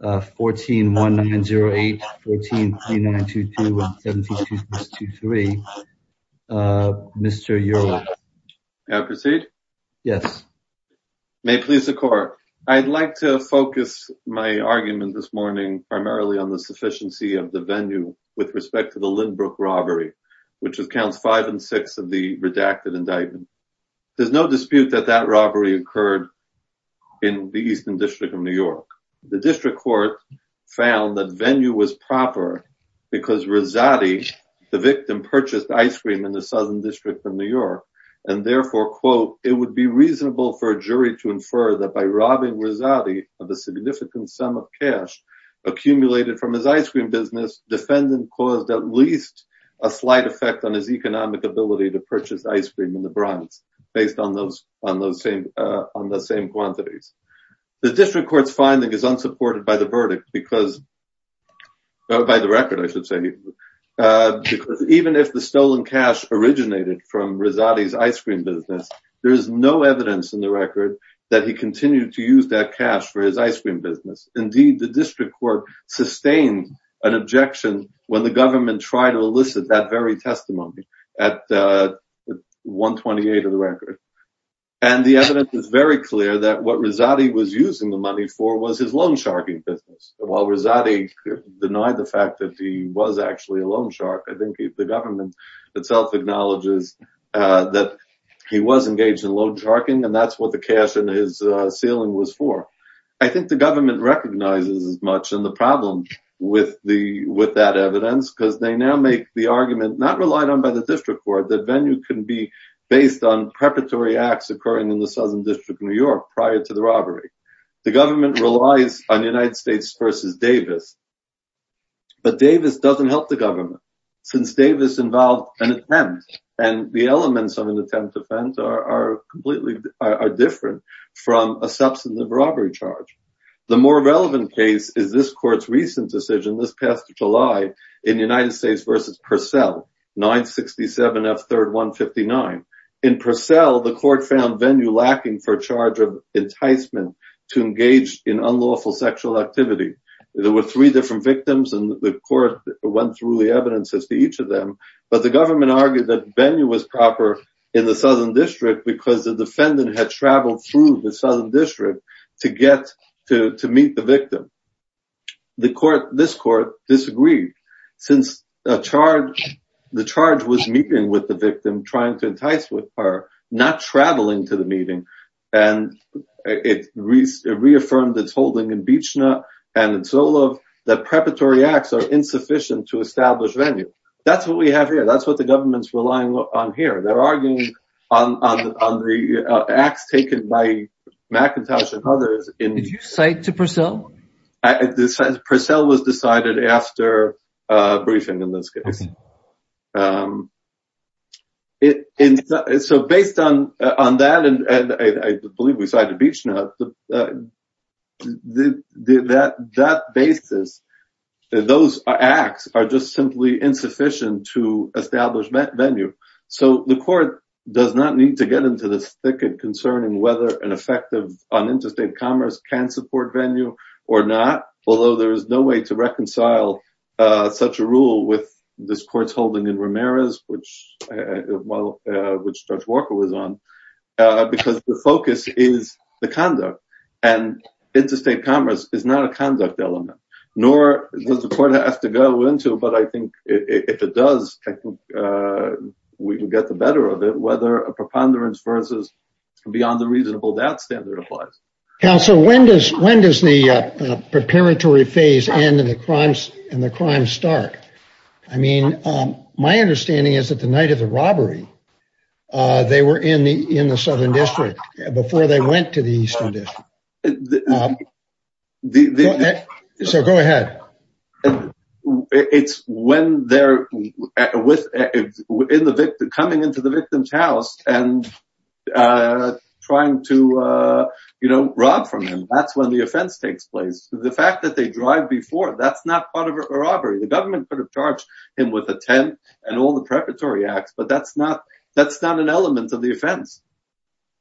14-1908, 14-3922, and 17-2623, Mr. Ureland. May I proceed? Yes. May it please the court. I'd like to focus my argument this morning primarily on the sufficiency of the venue with respect to the Lindbrook robbery, which was counts 5 and 6 of the redacted indictment. There's no dispute that that robbery occurred in the Eastern District of New York. The district court found that venue was proper because Rezati, the victim, purchased ice cream in the Southern District of New York, and therefore, quote, it would be reasonable for a jury to infer that by robbing Rezati of a significant sum of cash accumulated from his ice cream business, defendant caused at least a slight effect on his economic ability to purchase ice cream in the Bronx based on the same quantities. The district court's finding is unsupported by the verdict because, by the record I should say, even if the stolen cash originated from Rezati's ice cream business, there is no evidence in the record that he continued to use that cash for his ice cream business. Indeed, the district court sustained an objection when the government tried to elicit that very And the evidence is very clear that what Rezati was using the money for was his loan sharking business. While Rezati denied the fact that he was actually a loan shark, I think the government itself acknowledges that he was engaged in loan sharking, and that's what the cash in his ceiling was for. I think the government recognizes as much in the problem with that evidence because they now make the argument, not relied on by the district court, that Venue can be based on preparatory acts occurring in the Southern District of New York prior to the robbery. The government relies on United States v. Davis, but Davis doesn't help the government since Davis involved an attempt, and the elements of an attempt to fend are completely different from a substantive robbery charge. The more relevant case is this court's recent decision, this past July, in United States v. Purcell, 967F3159. In Purcell, the court found Venue lacking for a charge of enticement to engage in unlawful sexual activity. There were three different victims, and the court went through the evidence as to each of them, but the government argued that Venue was proper in the Southern District because the defendant had traveled through the Southern District to meet the victim. This court disagreed since the charge was meeting with the victim, trying to entice her, not traveling to the meeting, and it reaffirmed its holding in Beechna and in Solove that preparatory acts are insufficient to establish Venue. That's what we have here. That's what the government's relying on here. They're arguing on the acts taken by McIntosh and others. Did you cite to Purcell? Purcell was decided after a briefing in this case. So based on that, and I believe we cited Beechna, that basis, those acts are just simply insufficient to establish Venue. So the court does not need to get into this thicket concerning whether an effective uninterested commerce can support Venue or not, although there is no way to reconcile such a rule with this court's holding in Ramirez, which Judge Walker was on, because the focus is the conduct, and interstate commerce is not a conduct element, nor does the court have to go into, but I think if it does, we can get the better of it, whether a preponderance versus beyond the reasonable doubt standard applies. Counsel, when does the preparatory phase end and the crime start? I mean, my understanding is that the night of the robbery, they were in the southern district before they went to the eastern district. So go ahead. And it's when they're coming into the victim's house and trying to, you know, rob from them, that's when the offense takes place. The fact that they drive before, that's not part of a robbery. The government could have charged him with a 10 and all the preparatory acts, but that's not an element of the offense,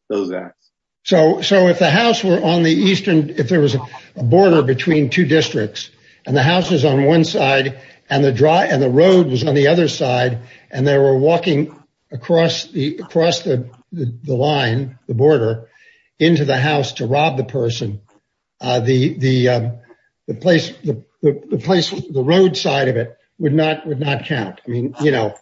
those acts. So, if the house were on the eastern, if there was a border between two districts and the house is on one side and the road was on the other side, and they were walking across the line, the border, into the house to rob the person, the place, the road side of it would not count. I mean, you know,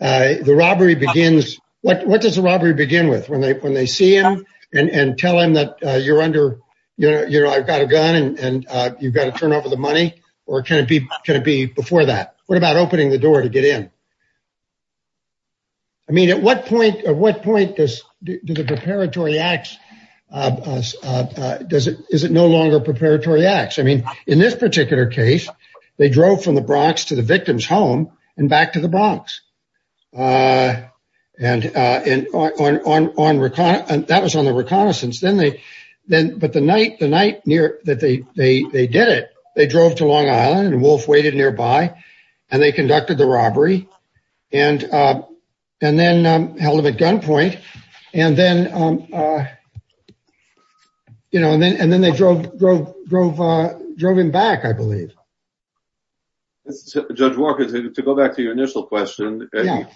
the robbery begins, what does the robbery begin with? When they see him and tell him that you're under, you know, I've got a gun and you've got to turn over the money or can it be before that? What about opening the door to get in? I mean, at what point does the preparatory acts, is it no longer preparatory acts? I mean, in this particular case, they drove from the Bronx to the victim's home and back to the Bronx and that was on the reconnaissance. But the night that they did it, they drove to Long Island and Wolf waited nearby and they conducted the robbery and then held him at gunpoint and then, you know, and then Judge Walker, to go back to your initial question, yes,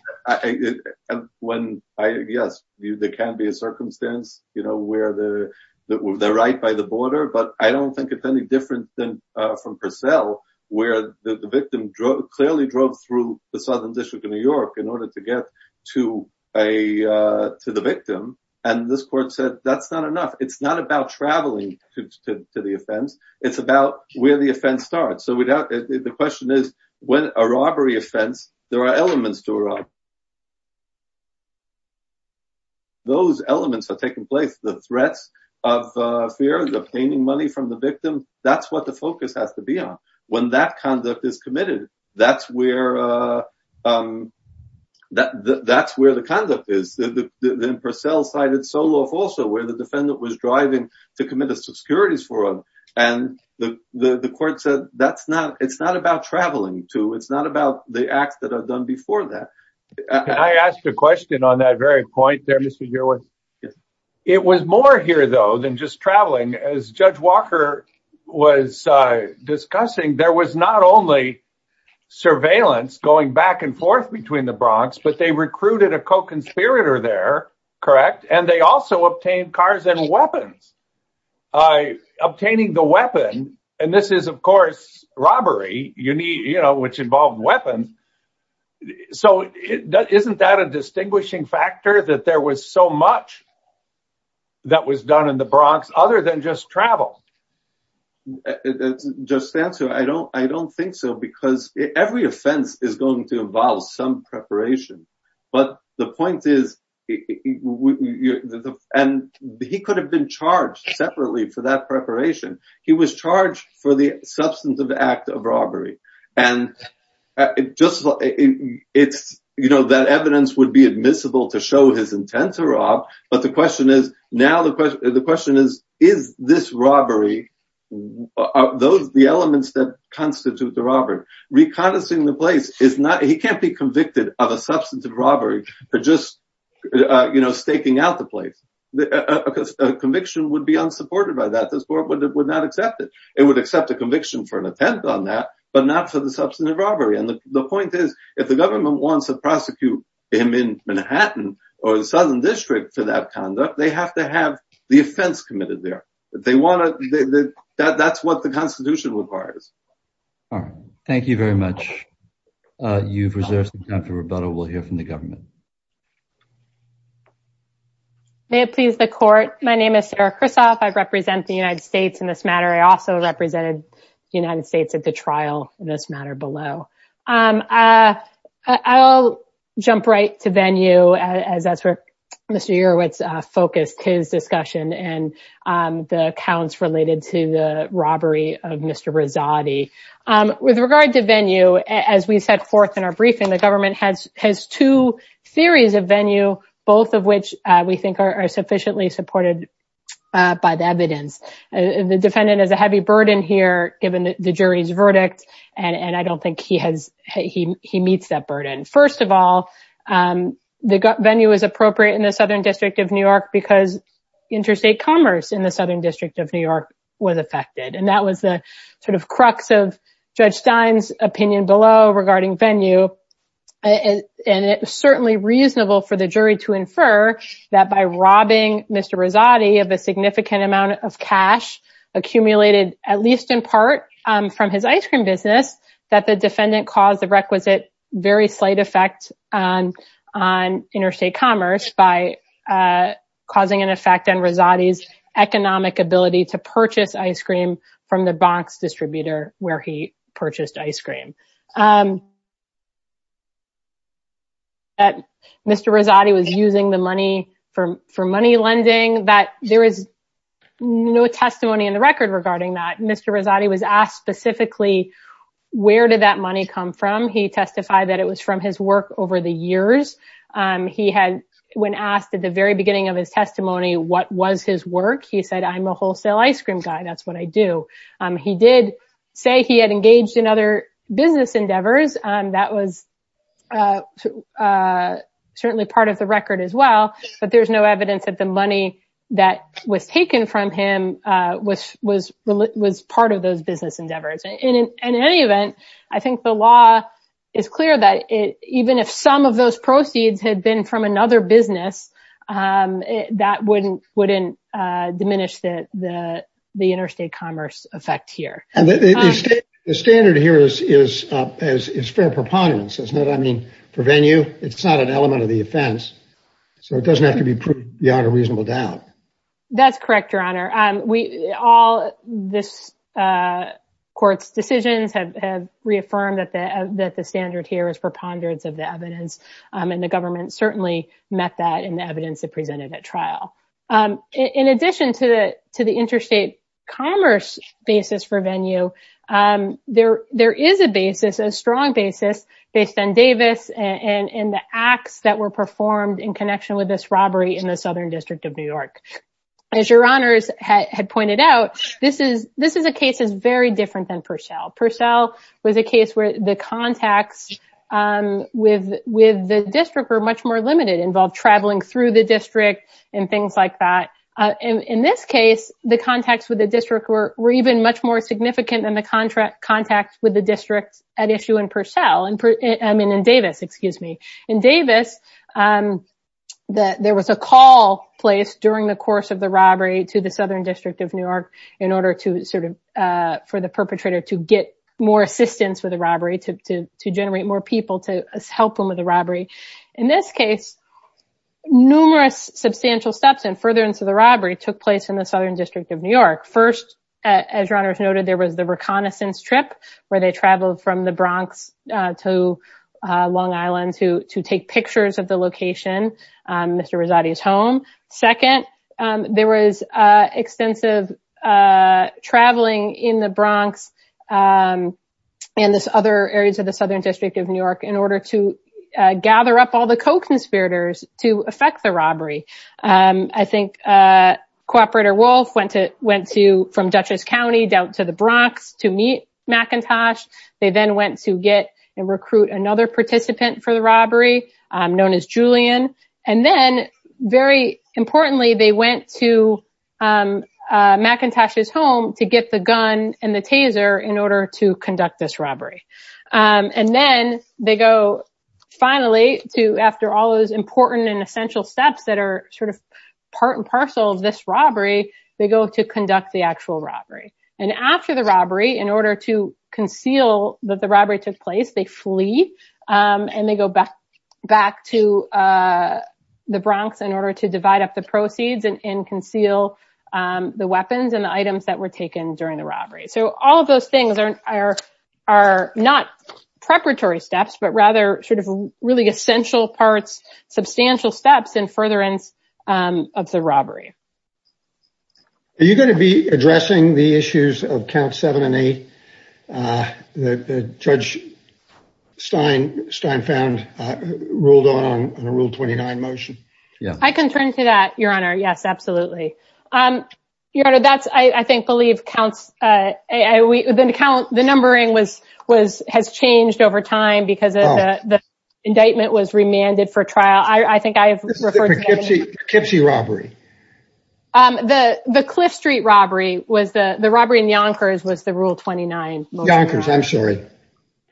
there can be a circumstance, you know, where they're right by the border. But I don't think it's any different than from Purcell, where the victim clearly drove through the Southern District of New York in order to get to the victim. And this court said that's not enough. It's not about traveling to the offense. It's about where the offense starts. So the question is, when a robbery offense, there are elements to a robbery. Those elements are taking place, the threats of fear, the obtaining money from the victim, that's what the focus has to be on. When that conduct is committed, that's where that's where the conduct is. Then Purcell cited Solov also, where the defendant was driving to commit a And the court said that's not it's not about traveling to. It's not about the acts that are done before that. I asked a question on that very point there, Mr. Yearwood. It was more here, though, than just traveling. As Judge Walker was discussing, there was not only surveillance going back and forth between the Bronx, but they recruited a co-conspirator there. Correct. And they also obtained cars and weapons. Obtaining the weapon, and this is, of course, robbery, you know, which involved weapons. So isn't that a distinguishing factor, that there was so much that was done in the Bronx other than just travel? Just answer. I don't I don't think so, because every offense is going to involve some preparation. But the point is, he could have been charged separately for that preparation. He was charged for the substantive act of robbery. And it just it's you know, that evidence would be admissible to show his intent to rob. But the question is now the question is, is this robbery of those the elements that constitute the robbery? Reconciling the place is not he can't be convicted of a substantive robbery for just, you know, staking out the place because conviction would be unsupported by that. This court would not accept it. It would accept a conviction for an attempt on that, but not for the substantive robbery. And the point is, if the government wants to prosecute him in Manhattan or the Southern District for that conduct, they have to have the offense committed there. They want to. That's what the Constitution requires. Thank you very much. You've reserved some time for rebuttal. We'll hear from the government. May it please the court. My name is Sarah Krisoff. I represent the United States in this matter. I also represented the United States at the trial in this matter below. I'll jump right to venue as that's where Mr. Yerowitz focused his discussion and the accounts related to the robbery of Mr. Rezati. With regard to venue, as we set forth in our briefing, the government has has two theories of venue, both of which we think are sufficiently supported by the evidence. The defendant is a heavy burden here, given the jury's verdict. And I don't think he has he he meets that burden. First of all, the venue is appropriate in the Southern District of New York because interstate commerce in the Southern District of New York was affected. And that was the sort of crux of Judge Stein's opinion below regarding venue. And it was certainly reasonable for the jury to infer that by robbing Mr. Rezati of a significant amount of cash accumulated, at least in part from his ice cream business, that the defendant caused the requisite very slight effect on interstate commerce by causing an effect on Rezati's economic ability to purchase ice cream from the box distributor where he purchased ice cream. And that Mr. Rezati was using the money for for money lending that there is no testimony in the record regarding that Mr. Rezati was asked specifically, where did that money come from? He testified that it was from his work over the years. He had when asked at the very beginning of his testimony, what was his work? He said, I'm a wholesale ice cream guy. That's what I do. He did say he had engaged in other business endeavors. That was certainly part of the record as well. But there's no evidence that the money that was taken from him was part of those business endeavors. And in any event, I think the law is clear that even if some of those proceeds had been from another business, that wouldn't diminish the interstate commerce effect here. And the standard here is fair preponderance, isn't it? I mean, for venue, it's not an element of the offense, so it doesn't have to be beyond a reasonable doubt. That's correct, Your Honor. We all this court's decisions have reaffirmed that the that the standard here is preponderance of the evidence and the government certainly met that in the evidence that presented at trial. In addition to the interstate commerce basis for venue, there is a basis, a strong basis based on Davis and the acts that were performed in connection with this robbery in the Southern District of New York. As Your Honors had pointed out, this is a case that's very different than Purcell. Purcell was a case where the contacts with the district were much more limited, involved traveling through the district and things like that. And in this case, the contacts with the district were even much more significant than the contract contacts with the district at issue in Purcell, I mean, in Davis, excuse me. In Davis, there was a call placed during the course of the robbery to the Southern District of New York in order to sort of for the perpetrator to get more assistance with the robbery, to generate more people to help them with the robbery. In this case, numerous substantial steps and furtherance of the robbery took place in the Southern District of New York. First, as Your Honors noted, there was the reconnaissance trip where they traveled from the Bronx to Long Island to take pictures of the location, Mr. Rezati's home. Second, there was extensive traveling in the Bronx and this other areas of the Southern District of New York in order to gather up all the co-conspirators to affect the robbery. I think Cooperator Wolf went to went to from Dutchess County down to the Bronx to meet McIntosh. They then went to get and recruit another participant for the robbery known as Julian. And then very importantly, they went to McIntosh's home to get the gun and the taser in order to conduct this robbery. And then they go finally to, after all those important and essential steps that are sort of part and parcel of this robbery, they go to conduct the actual robbery. And after the robbery, in order to conceal that the robbery took place, they flee and they go back to the Bronx in order to divide up the proceeds and conceal the weapons and the items that were taken during the robbery. So all of those things are not preparatory steps, but rather sort of really essential parts, substantial steps in furtherance of the robbery. Are you going to be addressing the issues of Counts 7 and 8 that Judge Stein found ruled on in a Rule 29 motion? I can turn to that, Your Honor. Yes, absolutely. Your Honor, that's, I think, believe Counts, the numbering has changed over time because of the indictment was remanded for trial. I think I have referred to that. This is the Poughkeepsie robbery. The Cliff Street robbery was the, the robbery in Yonkers was the Rule 29. Yonkers, I'm sorry.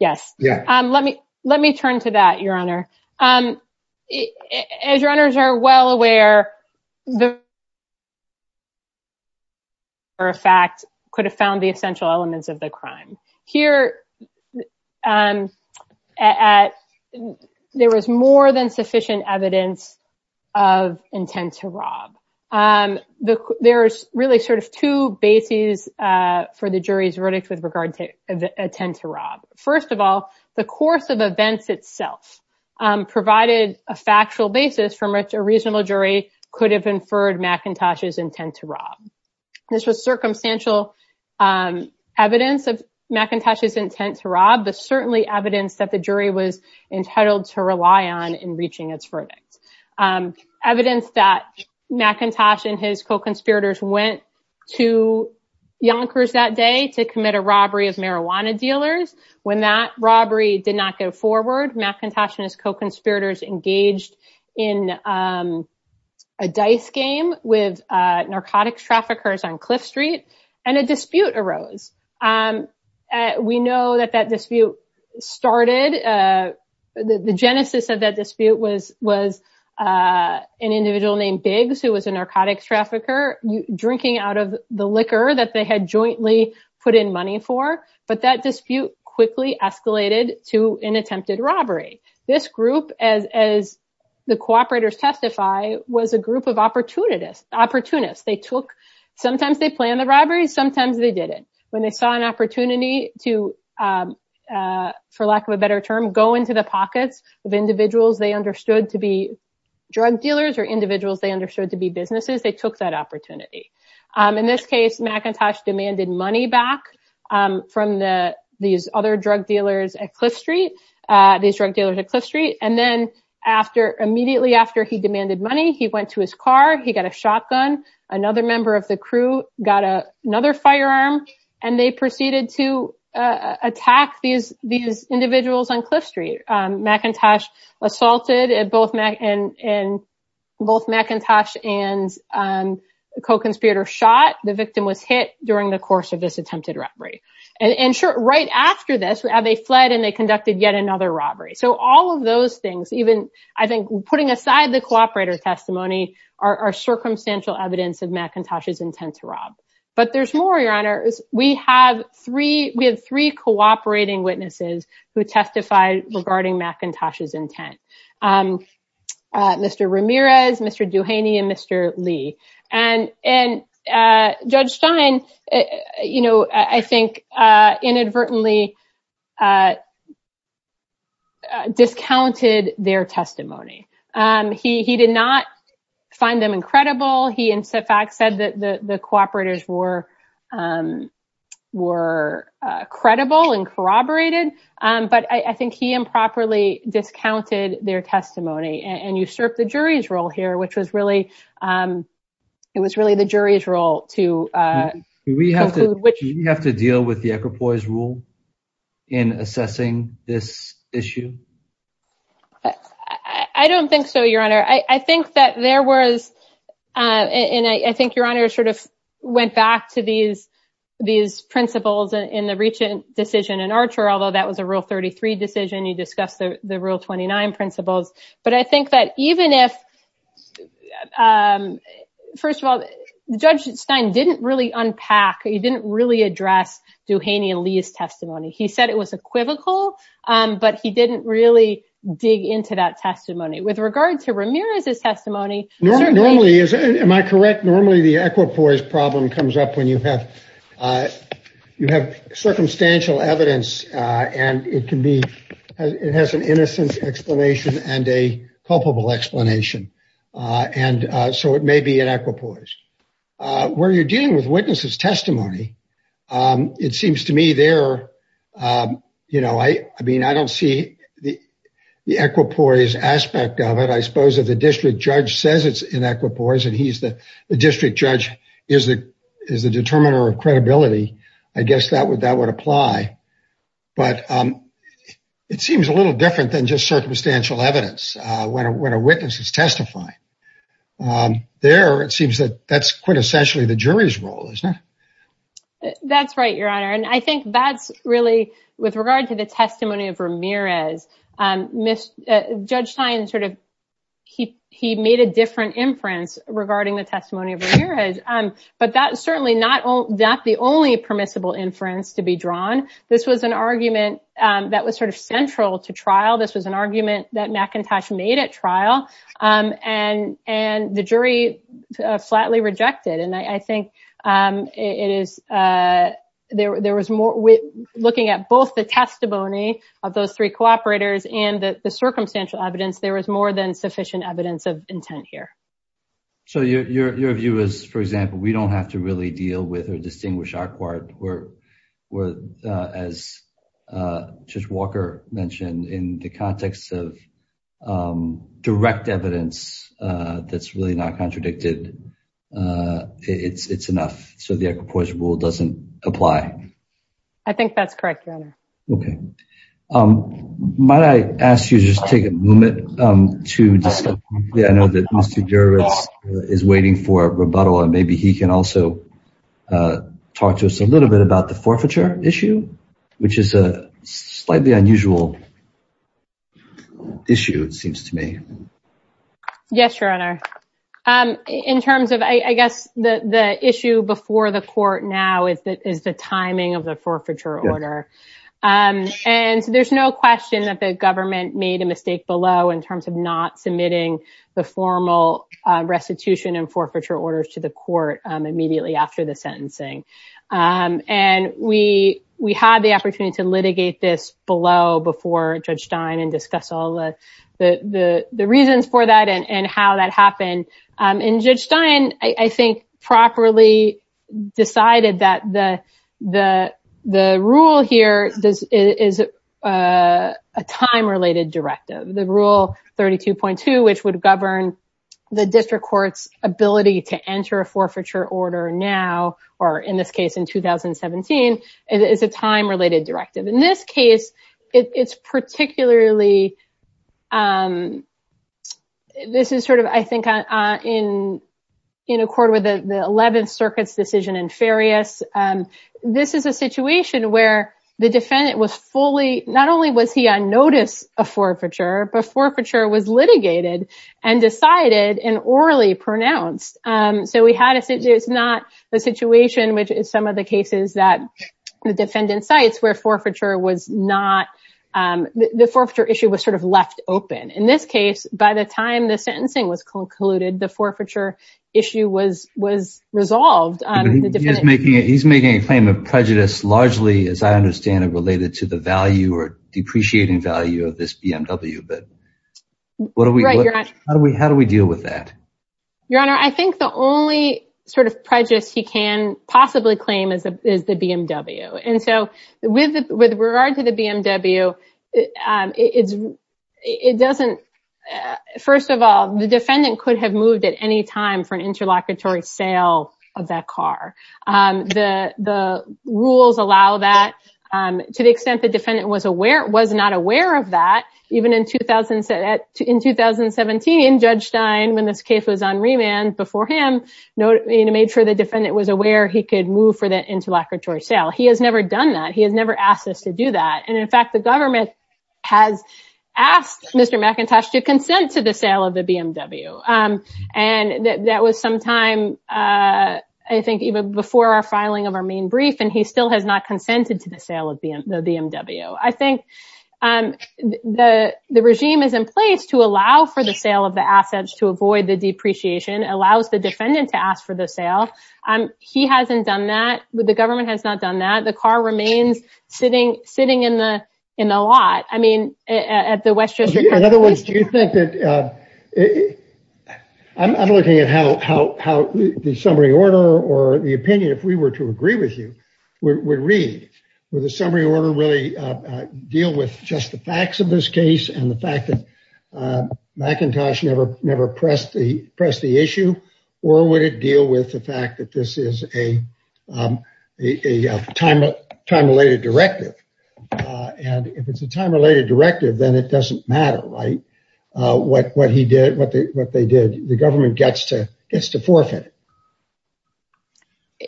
Yes. Let me turn to that, Your Honor. As your owners are well aware, the fact could have found the essential elements of the crime here at there was more than sufficient evidence of intent to rob. There's really sort of two bases for the jury's verdict with regard to intent to rob. First of all, the course of events itself provided a factual basis from which a reasonable jury could have inferred McIntosh's intent to rob. This was circumstantial evidence of McIntosh's intent to rob, but certainly evidence that the jury was entitled to rely on in reaching its verdict. Evidence that McIntosh and his co-conspirators went to Yonkers that day to commit a robbery of marijuana dealers. When that robbery did not go forward, McIntosh and his co-conspirators engaged in a dice game with narcotics traffickers on Cliff Street and a dispute arose. We know that that dispute started, the genesis of that dispute was was an individual named Biggs, who was a narcotics trafficker, drinking out of the liquor that they had jointly put in money for. But that dispute quickly escalated to an attempted robbery. This group, as the co-operators testify, was a group of opportunists. They took, sometimes they planned the robbery, sometimes they didn't. When they saw an opportunity to, for lack of a better term, go into the pockets of individuals they understood to be drug dealers or individuals they understood to be businesses, they took that opportunity. In this case, McIntosh demanded money back from these other drug dealers at Cliff Street, these drug dealers at Cliff Street. And then immediately after he demanded money, he went to his car, he got a shotgun. Another member of the crew got another firearm and they proceeded to attack these individuals on Cliff Street. McIntosh assaulted and both McIntosh and a co-conspirator shot. The victim was hit during the course of this attempted robbery. And sure, right after this, they fled and they conducted yet another robbery. So all of those things, even I think putting aside the co-operator testimony, are circumstantial evidence of McIntosh's intent to rob. But there's more, Your Honor. We have three cooperating witnesses who testified regarding McIntosh's intent. Mr. Ramirez, Mr. Duhaney and Mr. Lee. And Judge Stein, you know, I think inadvertently discounted their testimony. He did not find them incredible. He in fact said that the co-operators were were credible and corroborated. But I think he improperly discounted their testimony and usurped the jury's role here, which was really it was really the jury's role to. Do we have to deal with the equipoise rule in assessing this issue? I don't think so, Your Honor. I think that there was and I think Your Honor sort of went back to these these principles in the recent decision in Archer, although that was a Rule 33 decision. You discussed the Rule 29 principles. But I think that even if, first of all, Judge Stein didn't really unpack, he didn't really address Duhaney and Lee's testimony. He said it was equivocal, but he didn't really dig into that testimony. With regard to Ramirez's testimony. Normally, am I correct? Normally, the equipoise problem comes up when you have you have circumstantial evidence and it can be it has an innocent explanation and a culpable explanation. And so it may be an equipoise. Where you're dealing with witnesses testimony, it seems to me there, you know, I mean, I think there's aspect of it, I suppose, that the district judge says it's an equipoise and he's the district judge is the is the determiner of credibility. I guess that would that would apply. But it seems a little different than just circumstantial evidence when a witness is testifying. There, it seems that that's quintessentially the jury's role, isn't it? That's right, Your Honor. And I think that's really with regard to the testimony of Ramirez, Judge Stein sort of he he made a different inference regarding the testimony of Ramirez. But that is certainly not the only permissible inference to be drawn. This was an argument that was sort of central to trial. This was an argument that McIntosh made at trial and and the jury flatly rejected. And I think it is there there was more looking at both the testimony of those three cooperators and the circumstantial evidence. There was more than sufficient evidence of intent here. So your view is, for example, we don't have to really deal with or distinguish our part where we're as Judge Walker mentioned, in the context of direct evidence that's really not contradicted. It's it's enough. So the Equipoise rule doesn't apply. I think that's correct, Your Honor. OK. Might I ask you to just take a moment to discuss, I know that Mr. Jurowitz is waiting for a rebuttal and maybe he can also talk to us a little bit about the forfeiture issue, which is a slightly unusual issue, it seems to me. Yes, Your Honor. In terms of I guess the issue before the court now is the timing of the forfeiture order. And there's no question that the government made a mistake below in terms of not submitting the formal restitution and forfeiture orders to the court immediately after the sentencing. And we we had the opportunity to litigate this below before Judge Stein and discuss all the reasons for that and how that happened. And Judge Stein, I think, properly decided that the rule here is a time related directive. The rule 32.2, which would govern the district court's ability to enter a forfeiture order now, or in this case in 2017, is a time related directive. In this case, it's particularly, this is sort of, I think, in accord with the 11th Circuit's decision in Farias. This is a situation where the defendant was fully, not only was he on notice of forfeiture, but forfeiture was litigated and decided and orally pronounced. So we had, it's not the situation, which is some of the cases that the defendant cites where forfeiture was not, the forfeiture issue was sort of left open. In this case, by the time the sentencing was concluded, the forfeiture issue was was resolved. He's making a claim of prejudice, largely, as I understand it, related to the value or depreciating value of this BMW. But how do we deal with that? Your Honor, I think the only sort of prejudice he can possibly claim is the BMW. And so with regard to the BMW, it doesn't, first of all, the defendant could have moved at any time for an interlocutory sale of that car. The rules allow that to the extent the defendant was aware, was not aware of that. Even in 2017, Judge Stein, when this case was on remand before him, made sure the defendant was aware he could move for that interlocutory sale. He has never done that. He has never asked us to do that. And in fact, the government has asked Mr. McIntosh to consent to the sale of the BMW. And that was some time, I think, even before our filing of our main brief. And he still has not consented to the sale of the BMW. I think the regime is in place to allow for the sale of the assets to avoid the depreciation, allows the defendant to ask for the sale. He hasn't done that. The government has not done that. The car remains sitting in the lot. I mean, at the West District Court. In other words, do you think that, I'm looking at how the summary order or the opinion, if we were to agree with you, would read, would the summary order really deal with just the facts of this case and the fact that McIntosh never pressed the issue? Or would it deal with the fact that this is a time-related directive? And if it's a time-related directive, then it doesn't matter, right, what he did, what they did. The government gets to forfeit.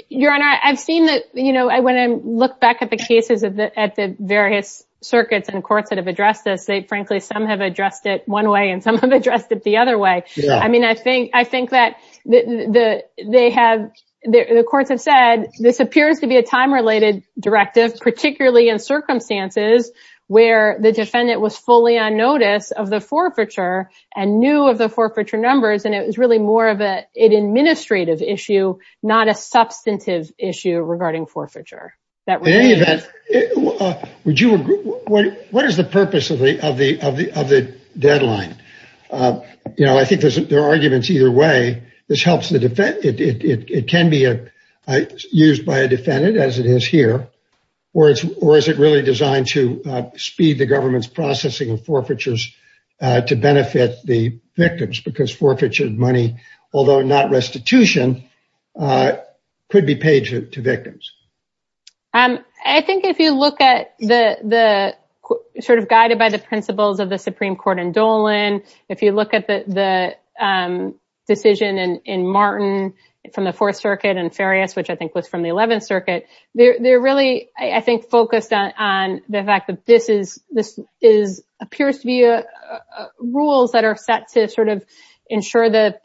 Your Honor, I've seen that, you know, when I look back at the cases at the various circuits and courts that have addressed this, they frankly, some have addressed it one way and some have addressed it the other way. I mean, I think that they have, the courts have said this appears to be a time-related directive, particularly in circumstances where the defendant was fully on notice of the forfeiture and knew of the forfeiture numbers. And it was really more of an administrative issue, not a substantive issue regarding forfeiture. In any event, would you agree, what is the purpose of the deadline? You know, I think there are arguments either way. This helps the defendant, it can be used by a defendant as it is here, or is it really designed to speed the government's processing of forfeitures to benefit the victims? Because forfeiture money, although not restitution, could be paid to victims. I think if you look at the, sort of guided by the principles of the Supreme Court in Dolan, if you look at the decision in Martin from the Fourth Circuit and Farias, which I think was from the Eleventh Circuit, they're really, I think, focused on the fact that this appears to be rules that are set to sort of ensure the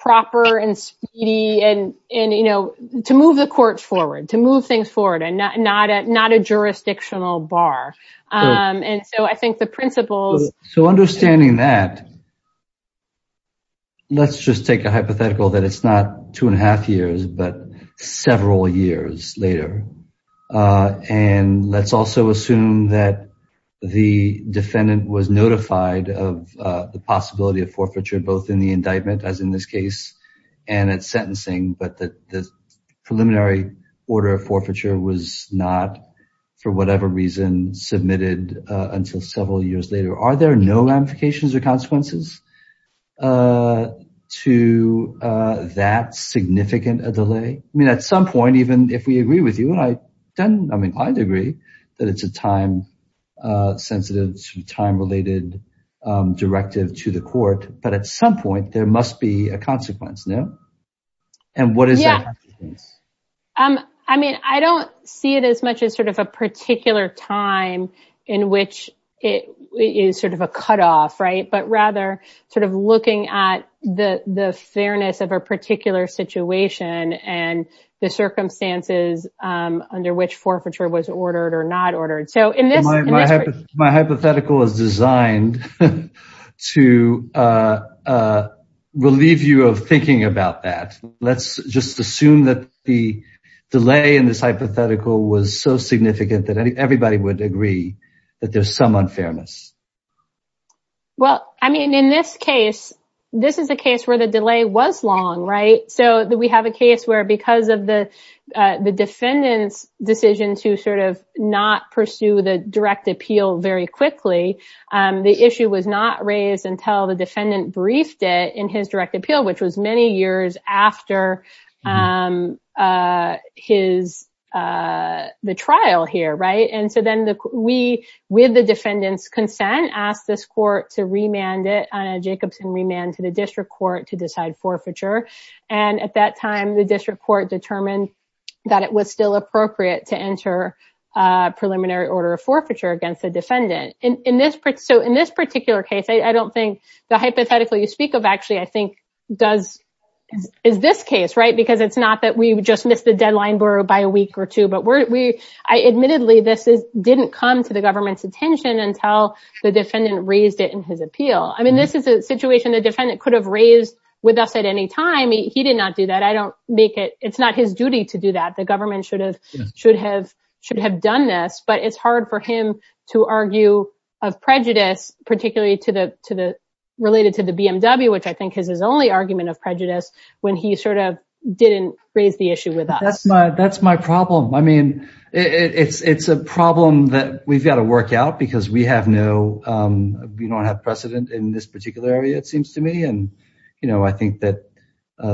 proper and speedy and, you know, to move the courts forward, to move things forward, and not a jurisdictional bar. And so I think the principles... So understanding that, let's just take a hypothetical that it's not two and a half years, but several years later. And let's also assume that the defendant was notified of the possibility of forfeiture, both in the indictment, as in this case, and at sentencing, but that the preliminary order of forfeiture was not, for whatever reason, submitted until several years later. Are there no ramifications or consequences to that significant a delay? I mean, at some point, even if we agree with you, and I don't, I mean, I'd agree that it's a time-sensitive, time-related directive to the court, but at some point, there must be a consequence, no? And what is that consequence? I mean, I don't see it as much as sort of a particular time in which it is sort of a cutoff, right, but rather sort of looking at the fairness of a particular situation and the circumstances under which forfeiture was ordered or not ordered. So in this case... My hypothetical is designed to relieve you of thinking about that. Let's just assume that the delay in this hypothetical was so significant that everybody would agree that there's some unfairness. Well, I mean, in this case, this is a case where the delay was long, right? So we have a case where because of the defendant's decision to sort of not pursue the direct appeal very quickly, the issue was not raised until the defendant briefed it in his direct appeal, which was many years after the trial here, right? And so then we, with the defendant's consent, asked this court to remand it, Jacobson remand to the district court to decide forfeiture. And at that time, the district court determined that it was still appropriate to enter a preliminary order of forfeiture against the defendant. So in this particular case, I don't think the hypothetical you speak of actually, I think is this case, right? Because it's not that we just missed the deadline by a week or two, but admittedly, this didn't come to the government's attention until the defendant raised it in his appeal. I mean, this is a situation the defendant could have raised with us at any time. He did not do that. I don't make it. It's not his duty to do that. The government should have done this. But it's hard for him to argue of prejudice, particularly related to the BMW, which I think is his only argument of prejudice when he sort of didn't raise the issue with us. That's my problem. I mean, it's a problem that we've got to work out because we have no, we don't have precedent in this particular area, it seems to me. And, you know, I think that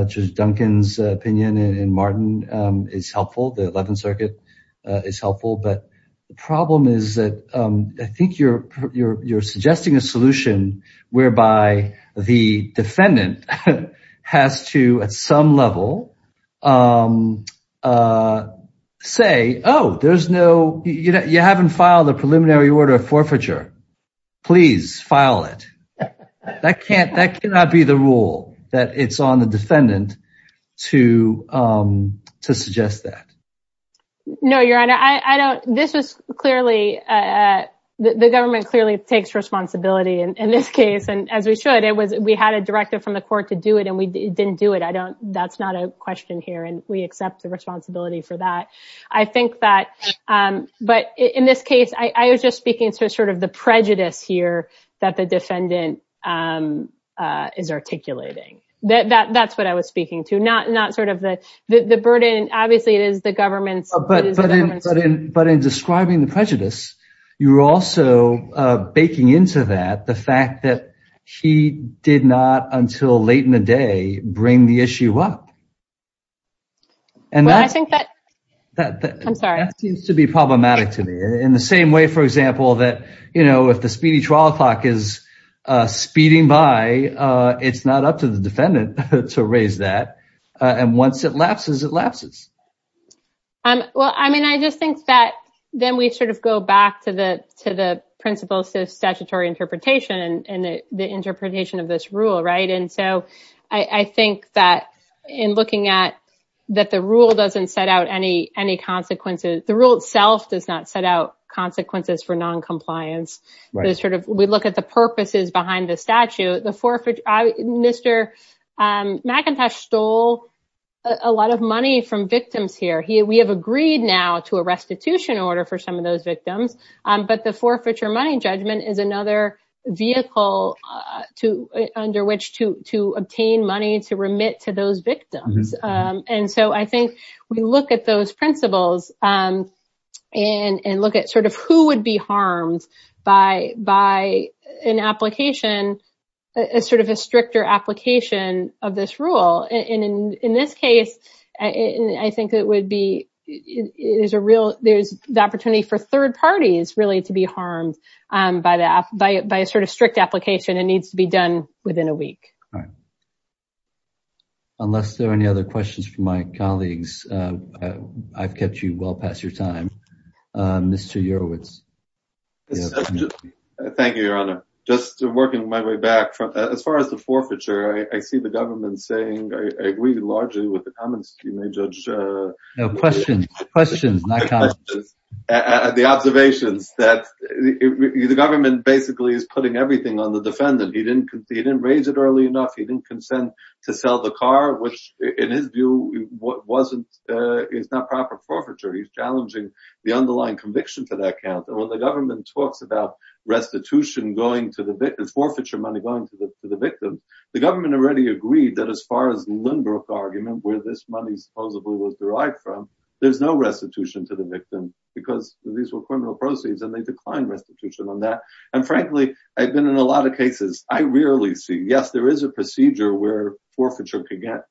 Judge Duncan's opinion and Martin is helpful. The 11th Circuit is helpful. But the problem is that I think you're suggesting a solution whereby the defendant has to, at some level, say, oh, there's no, you haven't filed a preliminary order of forfeiture. Please file it. That can't, that cannot be the rule that it's on the defendant to suggest that. No, Your Honor, I don't, this was clearly, the government clearly takes responsibility in this case. And as we should, it was, we had a directive from the court to do it and we didn't do it. I don't, that's not a question here. And we accept the responsibility for that. I think that, but in this case, I was just speaking to sort of the prejudice here that the defendant is articulating. That's what I was speaking to, not sort of the burden. Obviously, it is the government. But in describing the prejudice, you're also baking into that the fact that he did not until late in the day bring the issue up. And I think that seems to be problematic to me in the same way, for example, that, you know, it's speeding by, it's not up to the defendant to raise that. And once it lapses, it lapses. Well, I mean, I just think that then we sort of go back to the principles of statutory interpretation and the interpretation of this rule, right? And so I think that in looking at, that the rule doesn't set out any consequences. The rule itself does not set out consequences for noncompliance. We look at the purposes behind the statute. Mr. McIntosh stole a lot of money from victims here. We have agreed now to a restitution order for some of those victims, but the forfeiture money judgment is another vehicle under which to obtain money to remit to those victims. And so I think we look at those principles and look at sort of who would be harmed by an application, a sort of a stricter application of this rule. And in this case, I think it would be, there's the opportunity for third parties really to be harmed by a sort of strict application. It needs to be done within a week. Unless there are any other questions from my colleagues, I've kept you well past your time, Mr. Urowitz. Yes, thank you, Your Honor. Just working my way back, as far as the forfeiture, I see the government saying, I agree largely with the comments you made, Judge. No, questions, questions, not comments. The observations that the government basically is putting everything on the defendant. He didn't raise it early enough. He didn't consent to sell the car, which in his view, it's not proper forfeiture. He's challenging the underlying conviction to that count. And when the government talks about restitution going to the victim, forfeiture money going to the victim, the government already agreed that as far as the Lindbergh argument, where this money supposedly was derived from, there's no restitution to the victim because these were criminal proceeds and they declined restitution on that. And frankly, I've been in a lot of cases, I rarely see, yes, there is a procedure where forfeiture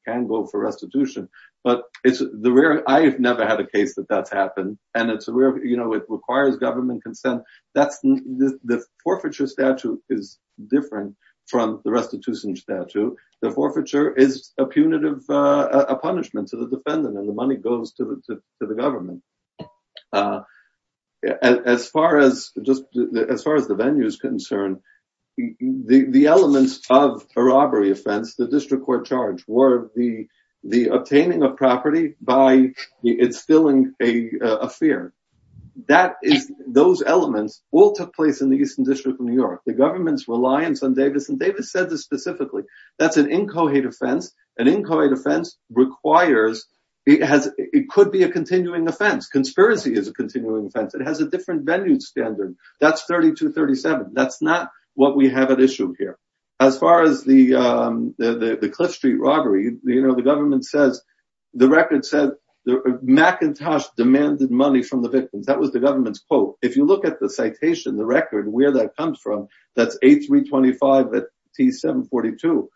can go for restitution. But I've never had a case that that's happened and it requires government consent. The forfeiture statute is different from the restitution statute. The forfeiture is a punitive punishment to the defendant and the money goes to the government. As far as the venue is concerned, the elements of a robbery offense, the district court charge, were the obtaining of property by instilling a fear. Those elements all took place in the Eastern District of New York. The government's reliance on Davis, and Davis said this specifically, that's an incoherent offense. An incoherent offense requires, it could be a continuing offense. Conspiracy is a continuing offense. It has a different venue standard. That's 3237. That's not what we have at issue here. As far as the Cliff Street robbery, the government says, the record says Macintosh demanded money from the victims. That was the government's quote. If you look at the citation, the record, where that comes from, that's A325 at T742.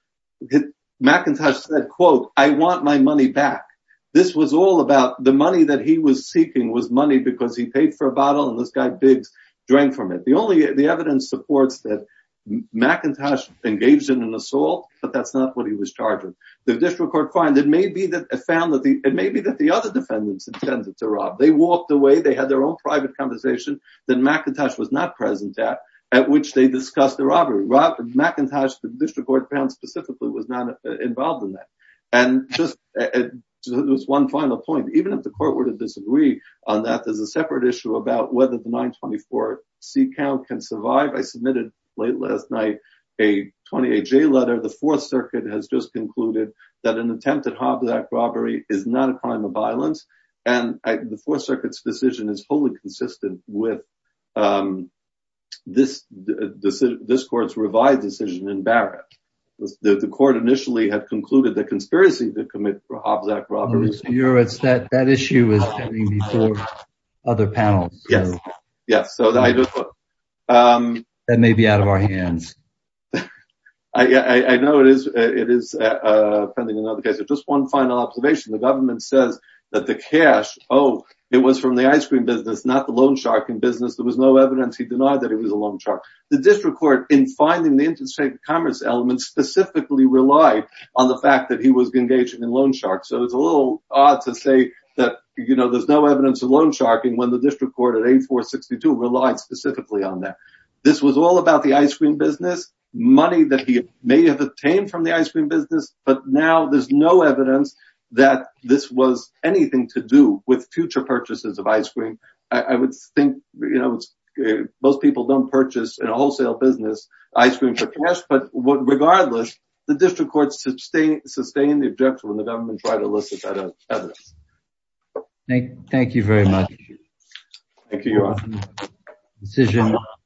Macintosh said, quote, I want my money back. This was all about the money that he was seeking was money because he paid for a bottle and this guy Biggs drank from it. The evidence supports that Macintosh engaged in an assault, but that's not what he was charged with. The district court found it may be that the other defendants intended to rob. They walked away. They had their own private conversation that Macintosh was not present at, at which they discussed the robbery. Macintosh, the district court found specifically, was not involved in that. And just this one final point, even if the court were to disagree on that, there's a can survive. I submitted late last night, a 28 J letter. The fourth circuit has just concluded that an attempt at Hobbs Act robbery is not a crime of violence. And the fourth circuit's decision is wholly consistent with this, this court's revised decision in Barrett. The court initially had concluded the conspiracy to commit Hobbs Act robberies. That issue is pending before other panels. Yes, yes. So that may be out of our hands. I know it is. It is pending another case. Just one final observation. The government says that the cash, oh, it was from the ice cream business, not the loan shark in business. There was no evidence. He denied that it was a loan shark. The district court in finding the interstate commerce elements specifically relied on the fact that he was engaged in a loan shark. It's a little odd to say that there's no evidence of loan sharking when the district court at 8462 relied specifically on that. This was all about the ice cream business, money that he may have obtained from the ice cream business. But now there's no evidence that this was anything to do with future purchases of ice cream. I would think most people don't purchase in a wholesale business ice cream for cash. Regardless, the district court sustained the objection when the government tried to elicit that evidence. Thank you very much. Thank you.